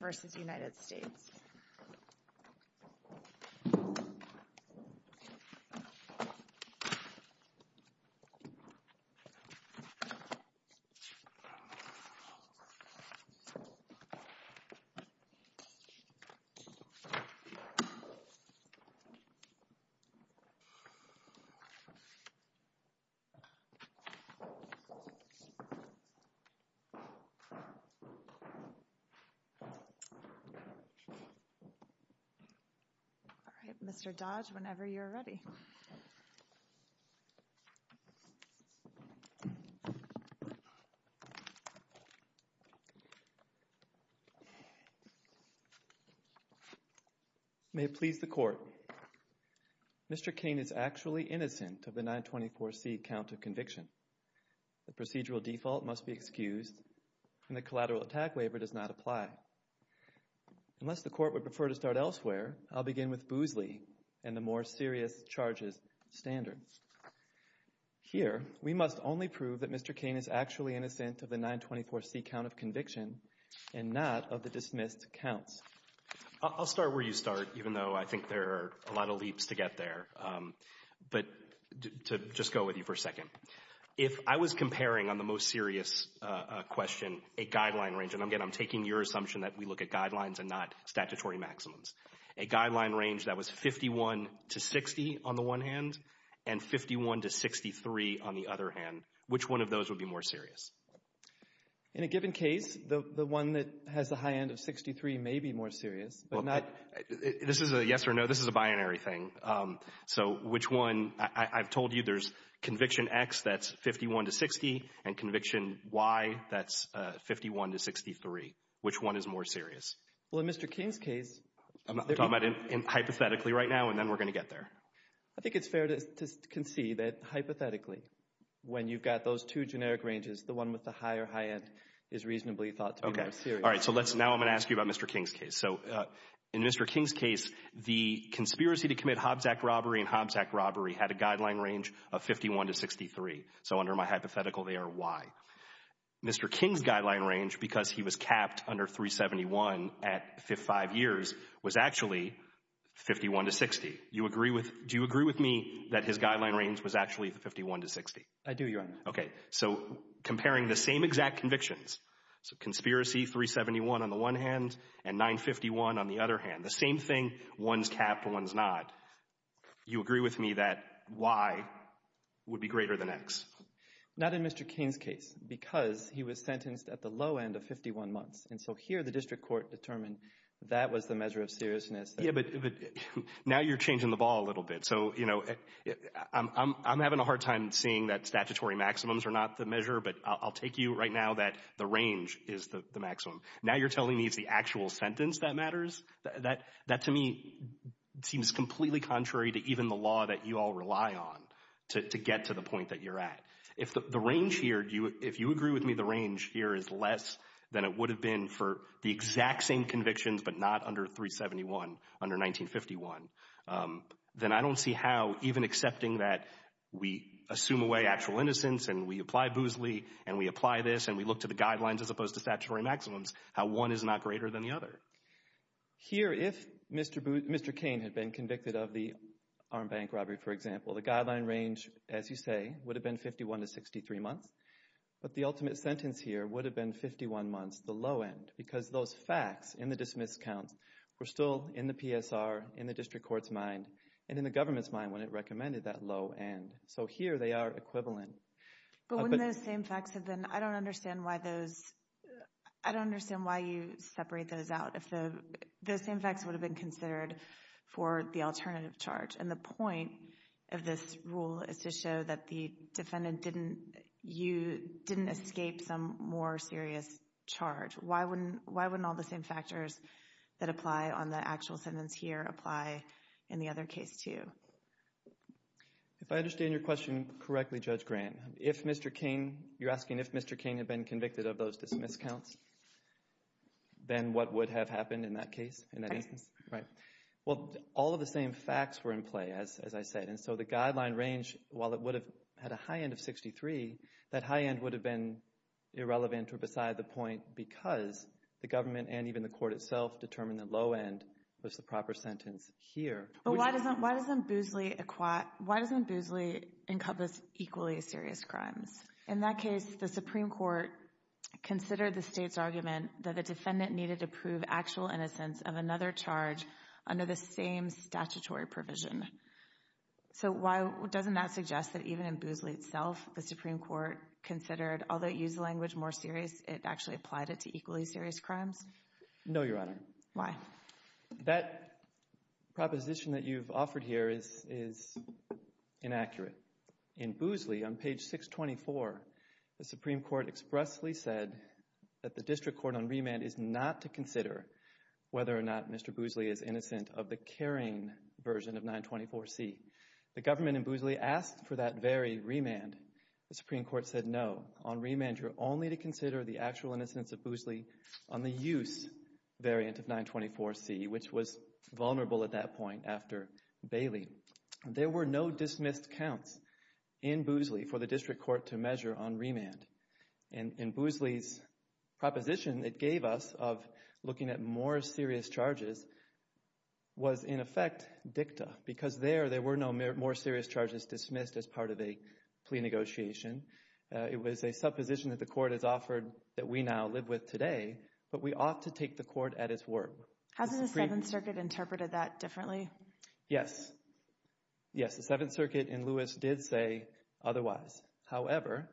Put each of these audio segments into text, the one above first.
v. United States. May it please the Court, Mr. King is actually innocent of the 924C count of conviction. The procedural default must be excused, and the collateral attack waiver does not apply. Unless the Court would prefer to start elsewhere, I'll begin with Boozley and the more serious charges standard. Here, we must only prove that Mr. King is actually innocent of the 924C count of conviction and not of the dismissed counts. I'll start where you start, even though I think there are a lot of leaps to get there. But to just go with you for a second, if I was comparing on the most serious question a guideline range, and again, I'm taking your assumption that we look at guidelines and not statutory maximums, a guideline range that was 51 to 60 on the one hand and 51 to 63 on the other hand, which one of those would be more serious? In a given case, the one that has the high end of 63 may be more serious. This is a yes or no, this is a binary thing. So which one, I've told you there's conviction X that's 51 to 60 and conviction Y that's 51 to 63. Which one is more serious? Well, in Mr. King's case, I'm talking about hypothetically right now and then we're going to get there. I think it's fair to concede that hypothetically when you've got those two generic ranges, the one with the higher high end is reasonably thought to be more serious. Okay. All right. So now I'm going to ask you about Mr. King's case. So in Mr. King's case, the conspiracy to commit Hobbs Act robbery and Hobbs Act robbery had a guideline range of 51 to 63. So under my hypothetical, they are Y. Mr. King's guideline range, because he was capped under 371 at five years, was actually 51 to 60. Do you agree with me that his guideline range was actually 51 to 60? I do, Your Honor. Okay. So comparing the same exact convictions, so conspiracy 371 on the one hand and 951 on the other hand, the same thing, one's capped, one's not. You agree with me that Y would be greater than X? Not in Mr. King's case because he was sentenced at the low end of 51 months. And so here the district court determined that was the measure of seriousness. Yeah, but now you're changing the ball a little bit. So, you know, I'm having a hard time seeing that statutory maximums are not the measure, but I'll take you right now that the range is the maximum. Now you're telling me it's the actual sentence that matters? That to me seems completely contrary to even the law that you all rely on to get to the point that you're at. If the range here, if you agree with me the range here is less than it would have been for the exact same convictions but not under 371, under 1951, then I don't see how even accepting that we assume away actual innocence and we apply Boozley and we apply this and we look to the guidelines as opposed to statutory maximums, how one is not greater than the other. Here, if Mr. Kane had been convicted of the armed bank robbery, for example, the guideline range, as you say, would have been 51 to 63 months. But the ultimate sentence here would have been 51 months, the low end, because those facts in the dismiss counts were still in the PSR, in the district court's mind, and in the government's mind when it recommended that low end. So here they are equivalent. But wouldn't those same facts have been, I don't understand why those, I don't understand why you separate those out. If those same facts would have been considered for the alternative charge and the point of this rule is to show that the defendant didn't escape some more serious charge, why wouldn't all the same factors that apply on the actual sentence here apply in the other case too? If I understand your question correctly, Judge Grant, if Mr. Kane, you're asking if Mr. Kane had been convicted of those dismiss counts, then what would have happened in that case, in that instance? Right. Well, all of the same facts were in play, as I said, and so the guideline range, while it would have had a high end of 63, that high end would have been irrelevant or beside the point because the government and even the court itself determined the low end was the proper sentence here. But why doesn't Boozley encompass equally serious crimes? In that case, the Supreme Court considered the State's argument that the defendant needed to prove actual innocence of another charge under the same statutory provision. So why doesn't that suggest that even in Boozley itself, the Supreme Court considered, although it used the language more serious, it actually applied it to equally serious crimes? No, Your Honor. Why? That proposition that you've offered here is inaccurate. In Boozley, on page 624, the Supreme Court expressly said that the district court on remand is not to consider whether or not Mr. Boozley is innocent of the carrying version of 924C. The government in Boozley asked for that very remand. The Supreme Court said no. On remand, you're only to consider the actual innocence of Boozley on the use variant of 924C, which was vulnerable at that point after Bailey. There were no dismissed counts in Boozley for the district court to measure on remand. And Boozley's proposition it gave us of looking at more serious charges was in effect dicta because there, there were no more serious charges dismissed as part of a plea negotiation. It was a supposition that the court has offered that we now live with today, but we ought to take the court at its word. Has the Seventh Circuit interpreted that differently? Yes. Yes, the Seventh Circuit in Lewis did say otherwise. However,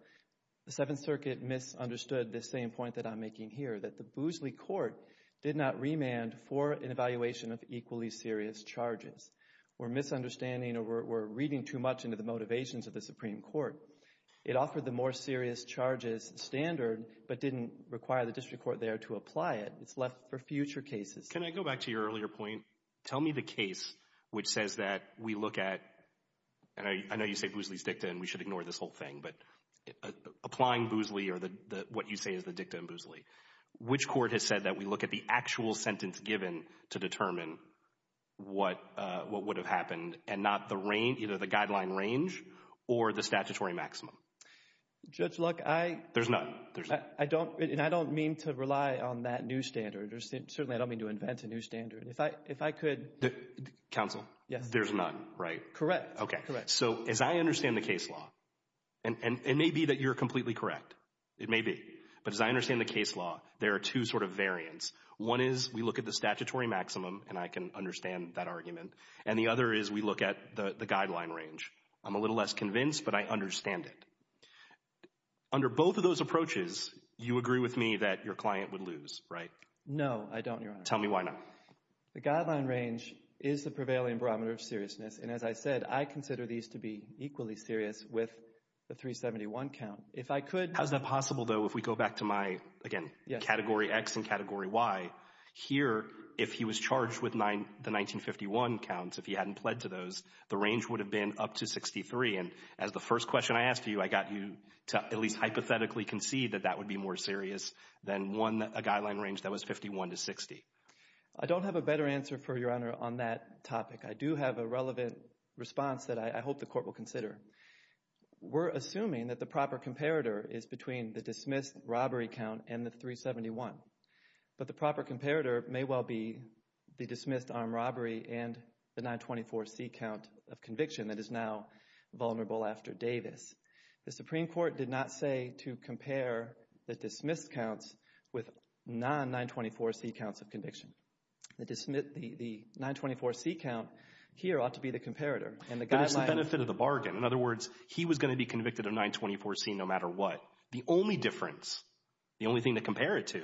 the Seventh Circuit misunderstood the same point that I'm making here, that the Boozley court did not remand for an evaluation of equally serious charges. We're misunderstanding or we're reading too much into the motivations of the Supreme Court. It offered the more serious charges standard but didn't require the district court there to apply it. It's left for future cases. Can I go back to your earlier point? Tell me the case which says that we look at, and I know you say Boozley's dicta and we should ignore this whole thing, but applying Boozley or what you say is the dicta in Boozley, which court has said that we look at the actual sentence given to determine what, what would have happened and not the range, either the guideline range or the statutory maximum? Judge Luck, I. There's none. I don't, and I don't mean to rely on that new standard. Certainly I don't mean to invent a new standard. If I could. Counsel. Yes. There's none, right? Correct. Okay. Correct. So as I understand the case law, and it may be that you're completely correct, it may be, but as I understand the case law, there are two sort of variants. One is we look at the statutory maximum, and I can understand that argument, and the other is we look at the guideline range. I'm a little less convinced, but I understand it. No, I don't, Your Honor. Tell me why not. The guideline range is the prevailing barometer of seriousness, and as I said, I consider these to be equally serious with the 371 count. If I could. How is that possible, though, if we go back to my, again, category X and category Y? Here, if he was charged with the 1951 counts, if he hadn't pled to those, the range would have been up to 63, and as the first question I asked you, I got you to at least hypothetically concede that that would be more serious than a guideline range that was 51 to 60. I don't have a better answer for you, Your Honor, on that topic. I do have a relevant response that I hope the court will consider. We're assuming that the proper comparator is between the dismissed robbery count and the 371, but the proper comparator may well be the dismissed armed robbery and the 924C count of conviction that is now vulnerable after Davis. The Supreme Court did not say to compare the dismissed counts with non-924C counts of conviction. The 924C count here ought to be the comparator. But it's the benefit of the bargain. In other words, he was going to be convicted of 924C no matter what. The only difference, the only thing to compare it to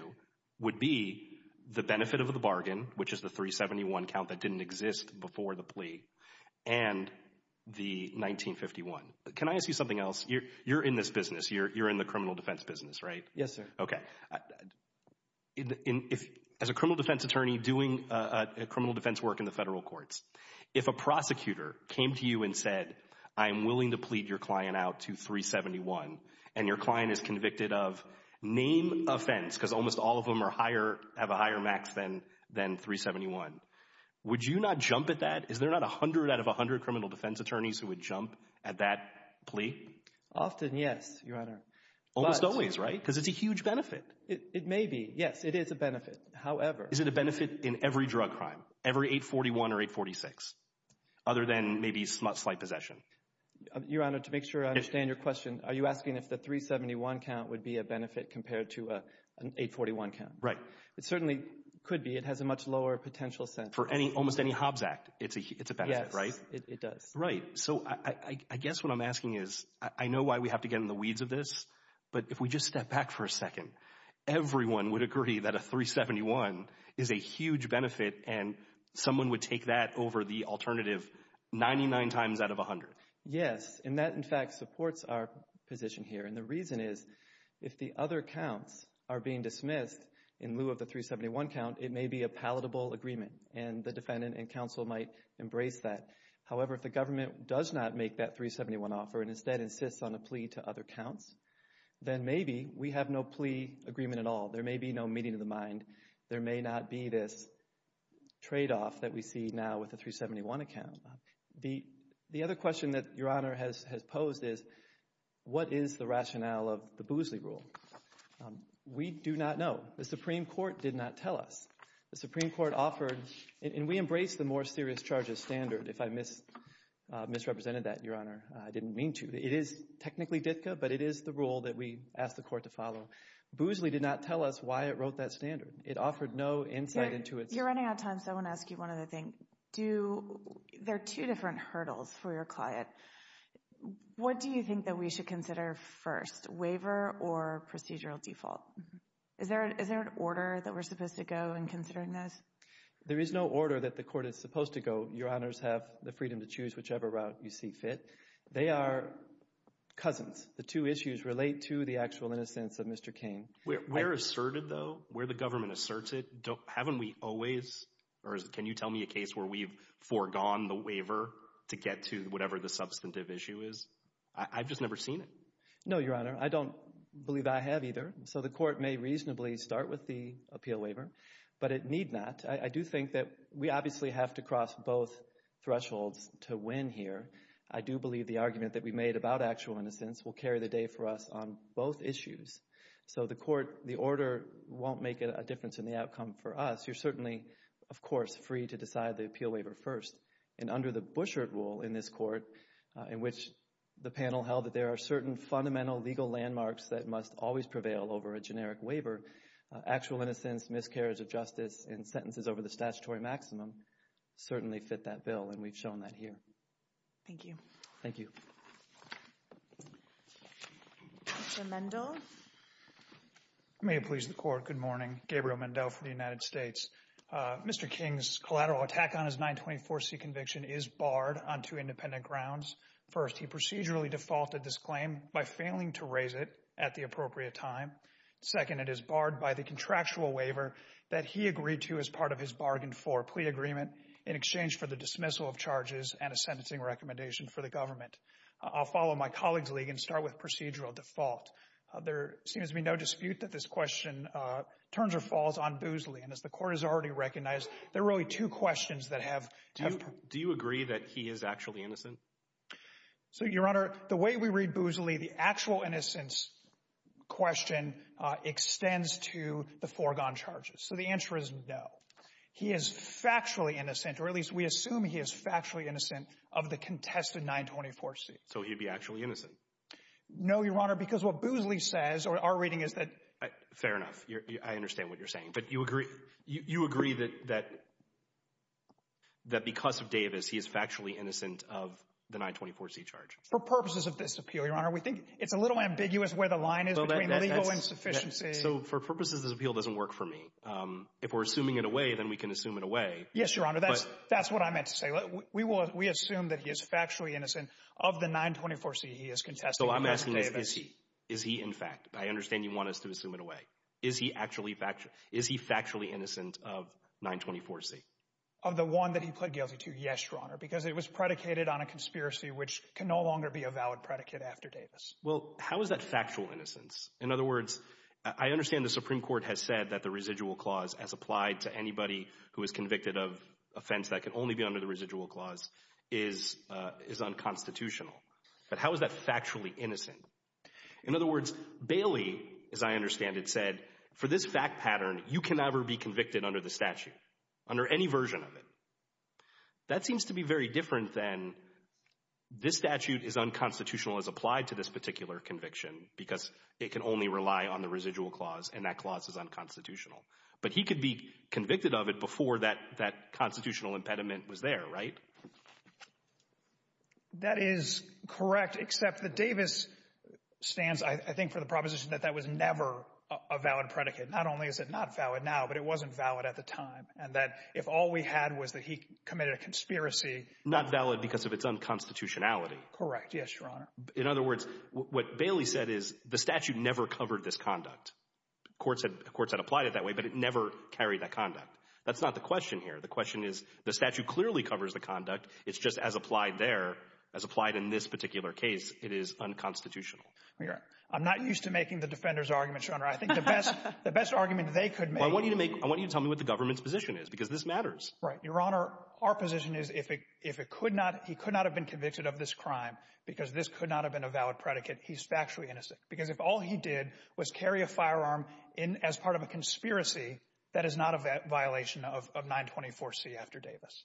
would be the benefit of the bargain, which is the 371 count that didn't exist before the plea, and the 1951. Can I ask you something else? You're in this business. You're in the criminal defense business, right? Yes, sir. Okay. As a criminal defense attorney doing criminal defense work in the federal courts, if a prosecutor came to you and said, I'm willing to plead your client out to 371 and your client is convicted of name offense, because almost all of them have a higher max than 371, would you not jump at that? Is there not 100 out of 100 criminal defense attorneys who would jump at that plea? Often, yes, Your Honor. Almost always, right? Because it's a huge benefit. It may be. Yes, it is a benefit. However. Is it a benefit in every drug crime, every 841 or 846, other than maybe slight possession? Your Honor, to make sure I understand your question, are you asking if the 371 count would be a benefit compared to an 841 count? Right. It certainly could be. It has a much lower potential sentence. For almost any Hobbs Act, it's a benefit, right? Yes, it does. Right. So I guess what I'm asking is, I know why we have to get in the weeds of this, but if we just step back for a second, everyone would agree that a 371 is a huge benefit and someone would take that over the alternative 99 times out of 100. Yes. And that, in fact, supports our position here. And the reason is, if the other counts are being dismissed in lieu of the 371 count, it may be a palatable agreement, and the defendant and counsel might embrace that. However, if the government does not make that 371 offer and instead insists on a plea to other counts, then maybe we have no plea agreement at all. There may be no meeting of the mind. There may not be this tradeoff that we see now with the 371 account. The other question that Your Honor has posed is, what is the rationale of the Boozley Rule? We do not know. The Supreme Court did not tell us. The Supreme Court offered, and we embrace the more serious charges standard, if I misrepresented that, Your Honor. I didn't mean to. It is technically DFCA, but it is the rule that we ask the court to follow. Boozley did not tell us why it wrote that standard. It offered no insight into it. You're running out of time, so I want to ask you one other thing. There are two different hurdles for your client. What do you think that we should consider first, waiver or procedural default? Is there an order that we're supposed to go in considering this? There is no order that the court is supposed to go, Your Honors, have the freedom to choose whichever route you see fit. They are cousins. The two issues relate to the actual innocence of Mr. Cain. We're asserted, though. We're the government asserts it. Haven't we always, or can you tell me a case where we've foregone the waiver to get to whatever the substantive issue is? I've just never seen it. No, Your Honor. I don't believe I have either. So the court may reasonably start with the appeal waiver, but it need not. I do think that we obviously have to cross both thresholds to win here. I do believe the argument that we made about actual innocence will carry the day for us on both issues. So the court, the order won't make a difference in the outcome for us. You're certainly, of course, free to decide the appeal waiver first. And under the Bouchard rule in this court, in which the panel held that there are certain fundamental legal landmarks that must always prevail over a generic waiver, actual innocence, miscarriage of justice, and sentences over the statutory maximum certainly fit that bill, and we've shown that here. Thank you. Thank you. Mr. Mendel. May it please the Court, good morning. Gabriel Mendel for the United States. Mr. King's collateral attack on his 924C conviction is barred on two independent grounds. First, he procedurally defaulted this claim by failing to raise it at the appropriate time. Second, it is barred by the contractual waiver that he agreed to as part of his bargain for plea agreement in exchange for the dismissal of charges and a sentencing recommendation for the government. I'll follow my colleague's lead and start with procedural default. There seems to be no dispute that this question turns or falls on Boozley, and as the Court has already recognized, there are only two questions that have been put. Do you agree that he is actually innocent? So, Your Honor, the way we read Boozley, the actual innocence question extends to the foregone charges. So the answer is no. He is factually innocent, or at least we assume he is factually innocent, of the contested 924C. So he'd be actually innocent? No, Your Honor, because what Boozley says, or our reading is that— Fair enough. I understand what you're saying. But you agree that because of Davis, he is factually innocent of the 924C charge? For purposes of this appeal, Your Honor, we think it's a little ambiguous where the line is between legal insufficiency— So for purposes of this appeal, it doesn't work for me. If we're assuming it away, then we can assume it away. Yes, Your Honor, that's what I meant to say. We assume that he is factually innocent of the 924C he is contesting. So I'm asking, is he in fact? I understand you want us to assume it away. Is he factually innocent of 924C? Of the one that he pled guilty to, yes, Your Honor, because it was predicated on a conspiracy which can no longer be a valid predicate after Davis. Well, how is that factual innocence? In other words, I understand the Supreme Court has said that the residual clause, as applied to anybody who is convicted of an offense that can only be under the residual clause, is unconstitutional. But how is that factually innocent? In other words, Bailey, as I understand it, said, for this fact pattern, you can never be convicted under the statute, under any version of it. That seems to be very different than this statute is unconstitutional as applied to this particular conviction because it can only rely on the residual clause, and that clause is unconstitutional. But he could be convicted of it before that constitutional impediment was there, right? That is correct, except that Davis stands, I think, for the proposition that that was never a valid predicate. Not only is it not valid now, but it wasn't valid at the time, and that if all we had was that he committed a conspiracy— Not valid because of its unconstitutionality. Correct, yes, Your Honor. In other words, what Bailey said is the statute never covered this conduct. Courts had applied it that way, but it never carried that conduct. That's not the question here. The question is the statute clearly covers the conduct. It's just as applied there, as applied in this particular case, it is unconstitutional. I'm not used to making the defender's argument, Your Honor. I think the best argument they could make— I want you to tell me what the government's position is because this matters. Right. Your Honor, our position is if he could not have been convicted of this crime because this could not have been a valid predicate, he's factually innocent because if all he did was carry a firearm as part of a conspiracy, that is not a violation of 924C after Davis.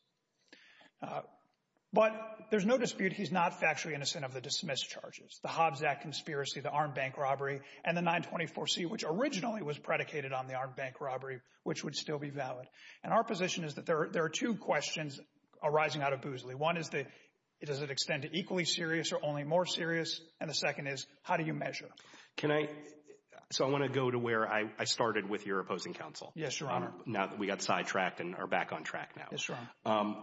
But there's no dispute he's not factually innocent of the dismissed charges, the Hobbs Act conspiracy, the armed bank robbery, and the 924C, which originally was predicated on the armed bank robbery, which would still be valid. And our position is that there are two questions arising out of Boozley. One is, does it extend to equally serious or only more serious? And the second is, how do you measure? Can I—so I want to go to where I started with your opposing counsel. Yes, Your Honor. Now that we got sidetracked and are back on track now. Yes, Your Honor.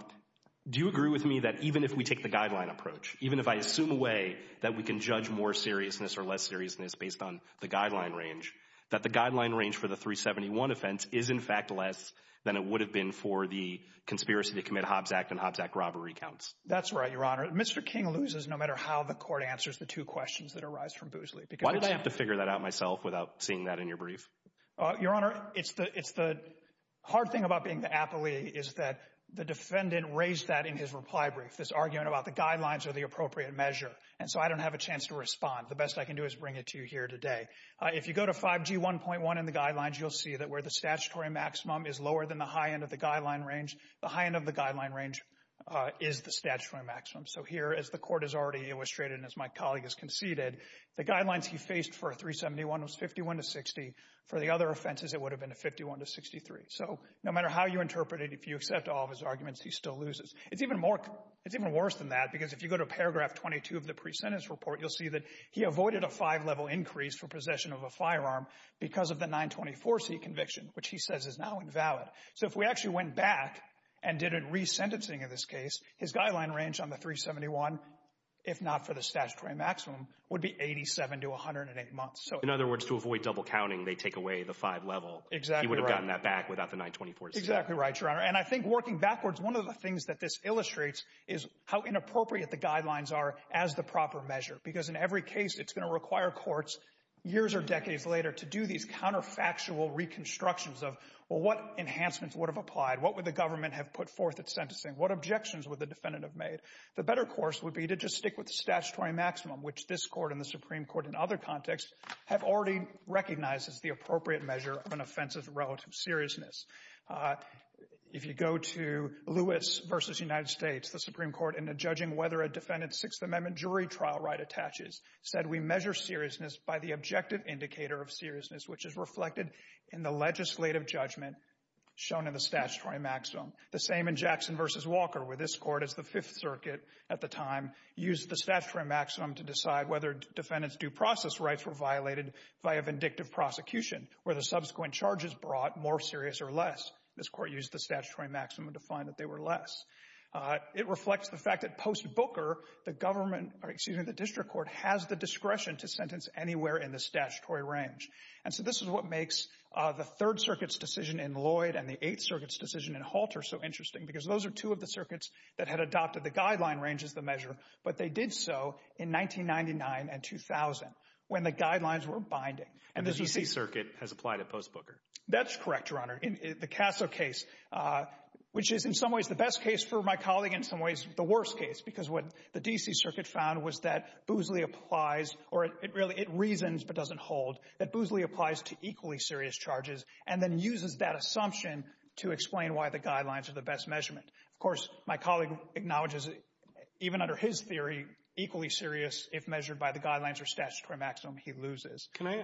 Do you agree with me that even if we take the guideline approach, even if I assume a way that we can judge more seriousness or less seriousness based on the guideline range, that the guideline range for the 371 offense is in fact less than it would have been for the conspiracy to commit Hobbs Act and Hobbs Act robbery counts? That's right, Your Honor. Mr. King loses no matter how the court answers the two questions that arise from Boozley. Why did I have to figure that out myself without seeing that in your brief? Your Honor, it's the hard thing about being the appellee is that the defendant raised that in his reply brief, this argument about the guidelines are the appropriate measure, and so I don't have a chance to respond. The best I can do is bring it to you here today. If you go to 5G 1.1 in the guidelines, you'll see that where the statutory maximum is lower than the high end of the guideline range, the high end of the guideline range is the statutory maximum. So here, as the court has already illustrated and as my colleague has conceded, the guidelines he faced for a 371 was 51 to 60. For the other offenses, it would have been a 51 to 63. So no matter how you interpret it, if you accept all of his arguments, he still loses. It's even worse than that because if you go to paragraph 22 of the pre-sentence report, you'll see that he avoided a five-level increase for possession of a firearm because of the 924C conviction, which he says is now invalid. So if we actually went back and did a re-sentencing in this case, his guideline range on the 371, if not for the statutory maximum, would be 87 to 108 months. In other words, to avoid double counting, they take away the five-level. Exactly right. He would have gotten that back without the 924C. Exactly right, Your Honor. And I think working backwards, one of the things that this illustrates is how inappropriate the guidelines are as the proper measure because in every case, it's going to require courts years or decades later to do these counterfactual reconstructions of what enhancements would have applied, what would the government have put forth at sentencing, what objections would the defendant have made. The better course would be to just stick with the statutory maximum, which this Court and the Supreme Court in other contexts have already recognized as the appropriate measure of an offense's relative seriousness. If you go to Lewis v. United States, the Supreme Court, in judging whether a defendant's Sixth Amendment jury trial right attaches, said we measure seriousness by the objective indicator of seriousness, which is reflected in the legislative judgment shown in the statutory maximum. The same in Jackson v. Walker, where this Court, as the Fifth Circuit at the time, used the statutory maximum to decide whether defendants' due process rights were violated via vindictive prosecution, whether subsequent charges brought more serious or less. This Court used the statutory maximum to find that they were less. It reflects the fact that post-Booker, the district court has the discretion to sentence anywhere in the statutory range. And so this is what makes the Third Circuit's decision in Lloyd and the Eighth Circuit's decision in Halter so interesting, because those are two of the circuits that had adopted the guideline range as the measure, but they did so in 1999 and 2000, when the guidelines were binding. And the D.C. Circuit has applied it post-Booker. That's correct, Your Honor. In the Casso case, which is in some ways the best case for my colleague and in some ways the worst case, because what the D.C. Circuit found was that Boosley applies to equally serious charges and then uses that assumption to explain why the guidelines are the best measurement. Of course, my colleague acknowledges, even under his theory, equally serious if measured by the guidelines or statutory maximum he loses. Can I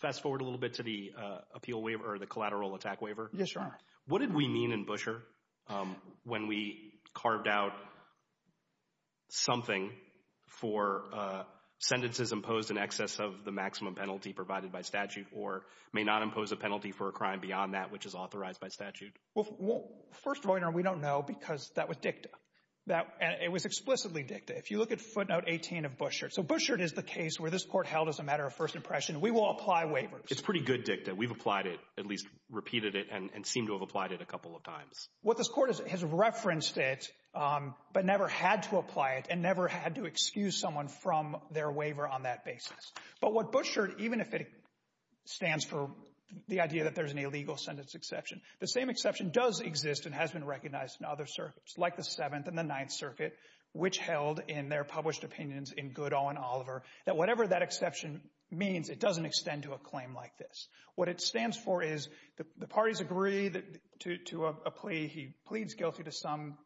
fast-forward a little bit to the appeal waiver or the collateral attack waiver? Yes, Your Honor. What did we mean in Busher when we carved out something for sentences imposed in excess of the maximum penalty provided by statute or may not impose a penalty for a crime beyond that which is authorized by statute? First, Your Honor, we don't know because that was dicta. It was explicitly dicta. If you look at footnote 18 of Busher, so Busher is the case where this court held as a matter of first impression, we will apply waivers. It's pretty good dicta. We've applied it, at least repeated it, and seem to have applied it a couple of times. What this court has referenced it but never had to apply it and never had to excuse someone from their waiver on that basis. But what Busher, even if it stands for the idea that there's an illegal sentence exception, the same exception does exist and has been recognized in other circuits, like the Seventh and the Ninth Circuit, which held in their published opinions in Goodall and Oliver that whatever that exception means, it doesn't extend to a claim like this. What it stands for is the parties agree to a plea. He pleads guilty to some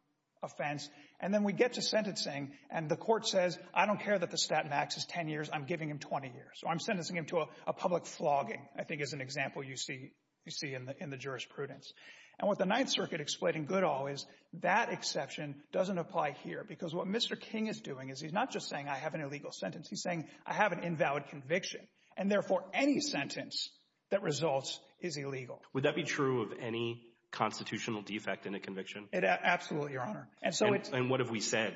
offense. And then we get to sentencing, and the court says, I don't care that the stat max is 10 years, I'm giving him 20 years. So I'm sentencing him to a public flogging, I think is an example you see in the jurisprudence. And what the Ninth Circuit explained in Goodall is that exception doesn't apply here because what Mr. King is doing is he's not just saying I have an illegal sentence. He's saying I have an invalid conviction, and therefore any sentence that results is illegal. Would that be true of any constitutional defect in a conviction? Absolutely, Your Honor. And so it's— And what have we said?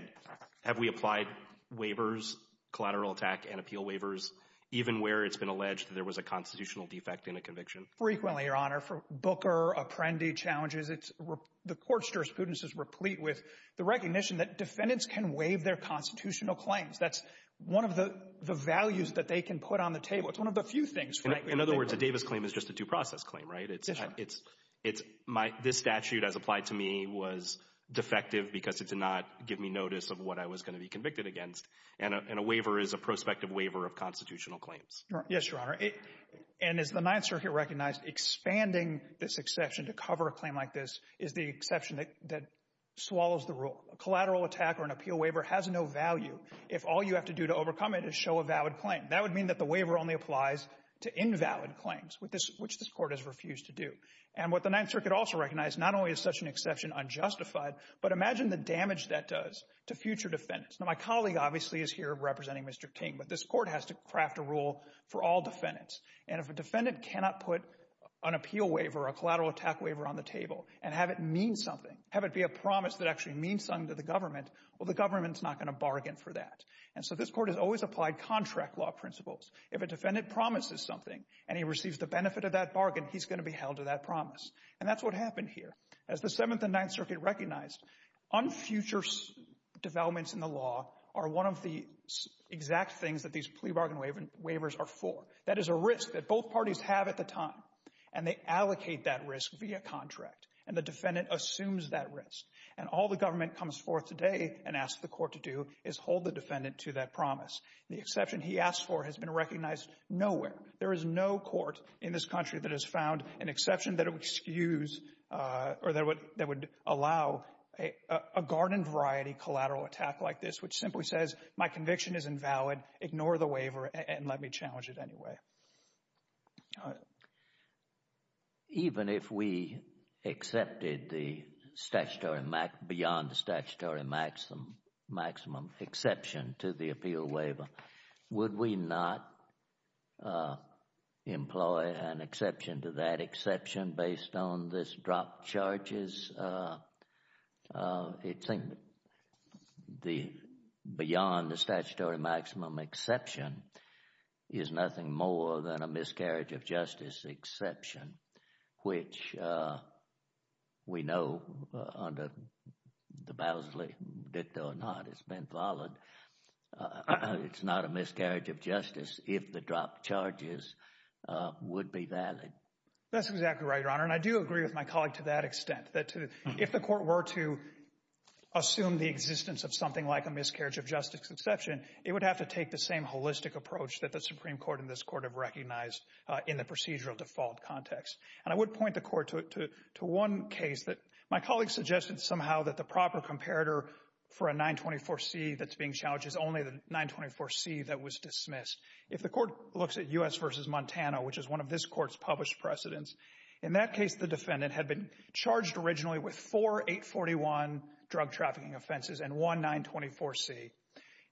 Have we applied waivers, collateral attack and appeal waivers, even where it's been alleged that there was a constitutional defect in a conviction? Frequently, Your Honor. For Booker, Apprendi challenges, the court's jurisprudence is replete with the recognition that defendants can waive their constitutional claims. That's one of the values that they can put on the table. It's one of the few things frankly— In other words, a Davis claim is just a due process claim, right? That's right. This statute, as applied to me, was defective because it did not give me notice of what I was going to be convicted against, and a waiver is a prospective waiver of constitutional claims. Yes, Your Honor. And as the Ninth Circuit recognized, expanding this exception to cover a claim like this is the exception that swallows the rule. A collateral attack or an appeal waiver has no value if all you have to do to overcome it is show a valid claim. That would mean that the waiver only applies to invalid claims, which this court has refused to do. And what the Ninth Circuit also recognized, not only is such an exception unjustified, but imagine the damage that does to future defendants. Now, my colleague obviously is here representing Mr. King, but this court has to craft a rule for all defendants. And if a defendant cannot put an appeal waiver, a collateral attack waiver, on the table and have it mean something, have it be a promise that actually means something to the government, well, the government's not going to bargain for that. And so this court has always applied contract law principles. If a defendant promises something and he receives the benefit of that bargain, he's going to be held to that promise. And that's what happened here. As the Seventh and Ninth Circuit recognized, unfuture developments in the law are one of the exact things that these plea bargain waivers are for. That is a risk that both parties have at the time, and they allocate that risk via contract. And the defendant assumes that risk. And all the government comes forth today and asks the court to do is hold the defendant to that promise. The exception he asked for has been recognized nowhere. There is no court in this country that has found an exception that would excuse or that would allow a garden variety collateral attack like this, which simply says my conviction is invalid, ignore the waiver, and let me challenge it anyway. All right. Even if we accepted the beyond the statutory maximum exception to the appeal waiver, would we not employ an exception to that exception based on this drop charges? I think the beyond the statutory maximum exception is nothing more than a miscarriage of justice exception, which we know under the Bousley, did or not it's been followed. It's not a miscarriage of justice if the drop charges would be valid. And I do agree with my colleague to that extent, that if the court were to assume the existence of something like a miscarriage of justice exception, it would have to take the same holistic approach that the Supreme Court and this court have recognized in the procedural default context. And I would point the court to one case that my colleague suggested somehow that the proper comparator for a 924C that's being challenged is only the 924C that was dismissed. If the court looks at U.S. v. Montana, which is one of this court's published precedents, in that case the defendant had been charged originally with four 841 drug trafficking offenses and one 924C.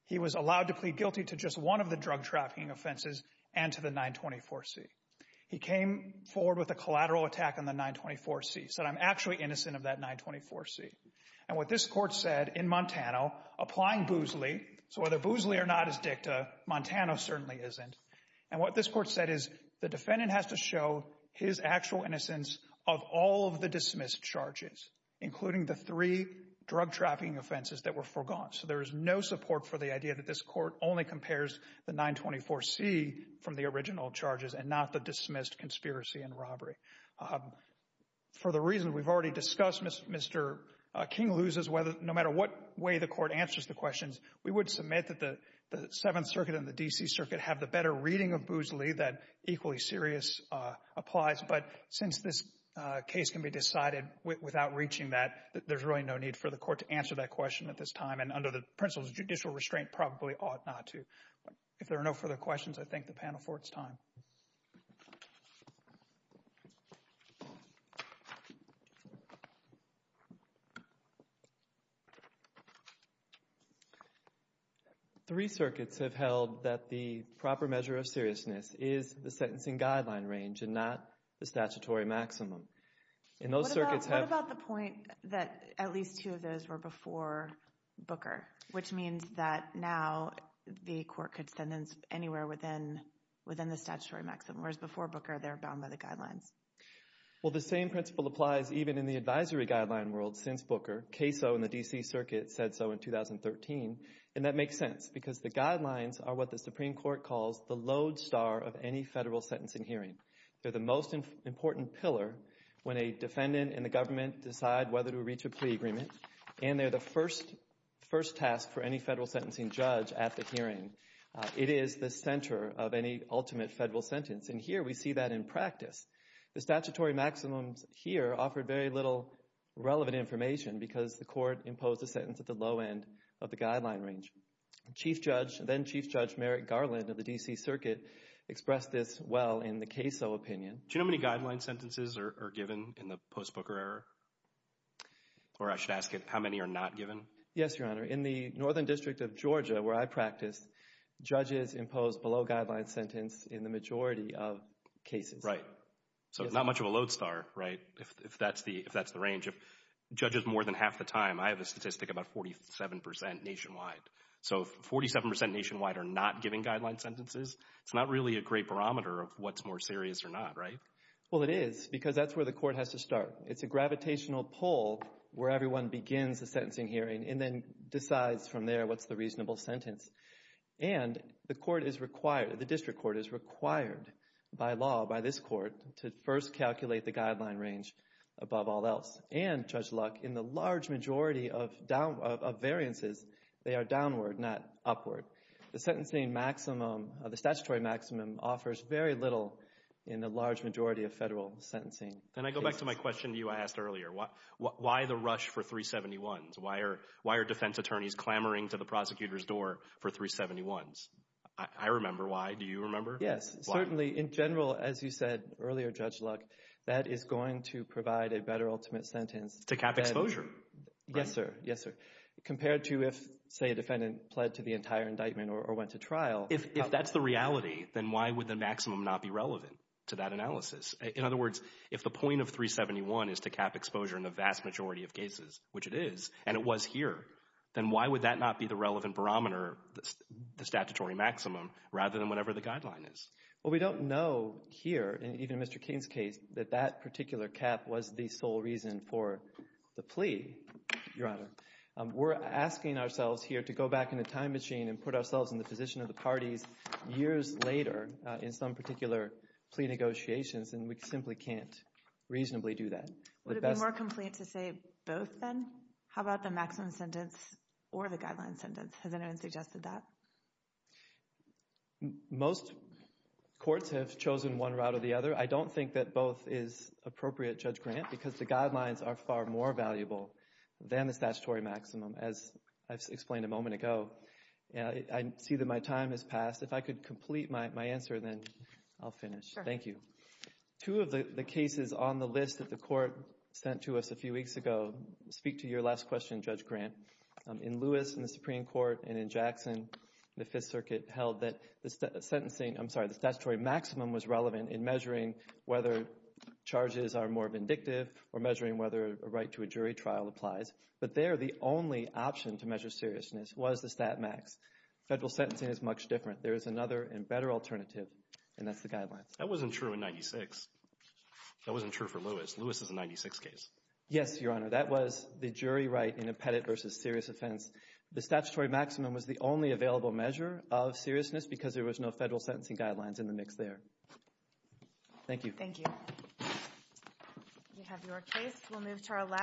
He was allowed to plead guilty to just one of the drug trafficking offenses and to the 924C. He came forward with a collateral attack on the 924C, said I'm actually innocent of that 924C. And what this court said in Montana, applying Bousley, so whether Bousley or not is dicta, Montana certainly isn't. And what this court said is the defendant has to show his actual innocence of all of the dismissed charges, including the three drug trafficking offenses that were forgone. So there is no support for the idea that this court only compares the 924C from the original charges and not the dismissed conspiracy and robbery. For the reason we've already discussed, Mr. King loses no matter what way the court answers the questions. We would submit that the Seventh Circuit and the D.C. Circuit have the better reading of Bousley that equally serious applies. But since this case can be decided without reaching that, there's really no need for the court to answer that question at this time and under the principles of judicial restraint probably ought not to. If there are no further questions, I thank the panel for its time. Three circuits have held that the proper measure of seriousness is the sentencing guideline range and not the statutory maximum. What about the point that at least two of those were before Booker, which means that now the court could sentence anywhere within the statutory maximum, whereas before Booker they're bound by the guidelines? Well, the same principle applies even in the advisory guideline world since Booker. Caso in the D.C. Circuit said so in 2013, and that makes sense because the guidelines are what the Supreme Court calls the lodestar of any federal sentencing hearing. They're the most important pillar when a defendant and the government decide whether to reach a plea agreement, and they're the first task for any federal sentencing judge at the hearing. It is the center of any ultimate federal sentence, and here we see that in practice. The statutory maximums here offer very little relevant information because the court imposed a sentence at the low end of the guideline range. Chief Judge, then Chief Judge Merrick Garland of the D.C. Circuit, expressed this well in the Caso opinion. Do you know how many guideline sentences are given in the post-Booker era, or I should ask how many are not given? Yes, Your Honor. In the Northern District of Georgia where I practice, judges impose below-guideline sentence in the majority of cases. Right, so not much of a lodestar, right, if that's the range. If judges more than half the time, I have a statistic about 47 percent nationwide. So if 47 percent nationwide are not giving guideline sentences, it's not really a great barometer of what's more serious or not, right? Well, it is because that's where the court has to start. It's a gravitational pull where everyone begins the sentencing hearing and then decides from there what's the reasonable sentence. And the district court is required by law, by this court, to first calculate the guideline range above all else. And, Judge Luck, in the large majority of variances, they are downward, not upward. The statutory maximum offers very little in the large majority of federal sentencing cases. Can I go back to my question to you I asked earlier? Why the rush for 371s? Why are defense attorneys clamoring to the prosecutor's door for 371s? I remember why. Do you remember? Yes, certainly. In general, as you said earlier, Judge Luck, that is going to provide a better ultimate sentence. To cap exposure. Yes, sir. Yes, sir. Compared to if, say, a defendant pled to the entire indictment or went to trial. If that's the reality, then why would the maximum not be relevant to that analysis? In other words, if the point of 371 is to cap exposure in the vast majority of cases, which it is, and it was here, then why would that not be the relevant barometer, the statutory maximum, rather than whatever the guideline is? Well, we don't know here, even in Mr. King's case, that that particular cap was the sole reason for the plea, Your Honor. We're asking ourselves here to go back in the time machine and put ourselves in the position of the parties years later in some particular plea negotiations, and we simply can't reasonably do that. Would it be more complete to say both, then? How about the maximum sentence or the guideline sentence? Has anyone suggested that? Most courts have chosen one route or the other. I don't think that both is appropriate, Judge Grant, because the guidelines are far more valuable than the statutory maximum, as I've explained a moment ago. I see that my time has passed. If I could complete my answer, then I'll finish. Sure. Thank you. Two of the cases on the list that the Court sent to us a few weeks ago speak to your last question, Judge Grant. In Lewis, in the Supreme Court, and in Jackson, the Fifth Circuit, held that the statutory maximum was relevant in measuring whether charges are more vindictive or measuring whether a right to a jury trial applies, but there the only option to measure seriousness was the stat max. Federal sentencing is much different. There is another and better alternative, and that's the guidelines. That wasn't true in 96. That wasn't true for Lewis. Lewis is a 96 case. Yes, Your Honor. That was the jury right in a pettite versus serious offense. The statutory maximum was the only available measure of seriousness because there was no federal sentencing guidelines in the mix there. Thank you. Thank you. You have your case. We'll move to our last case.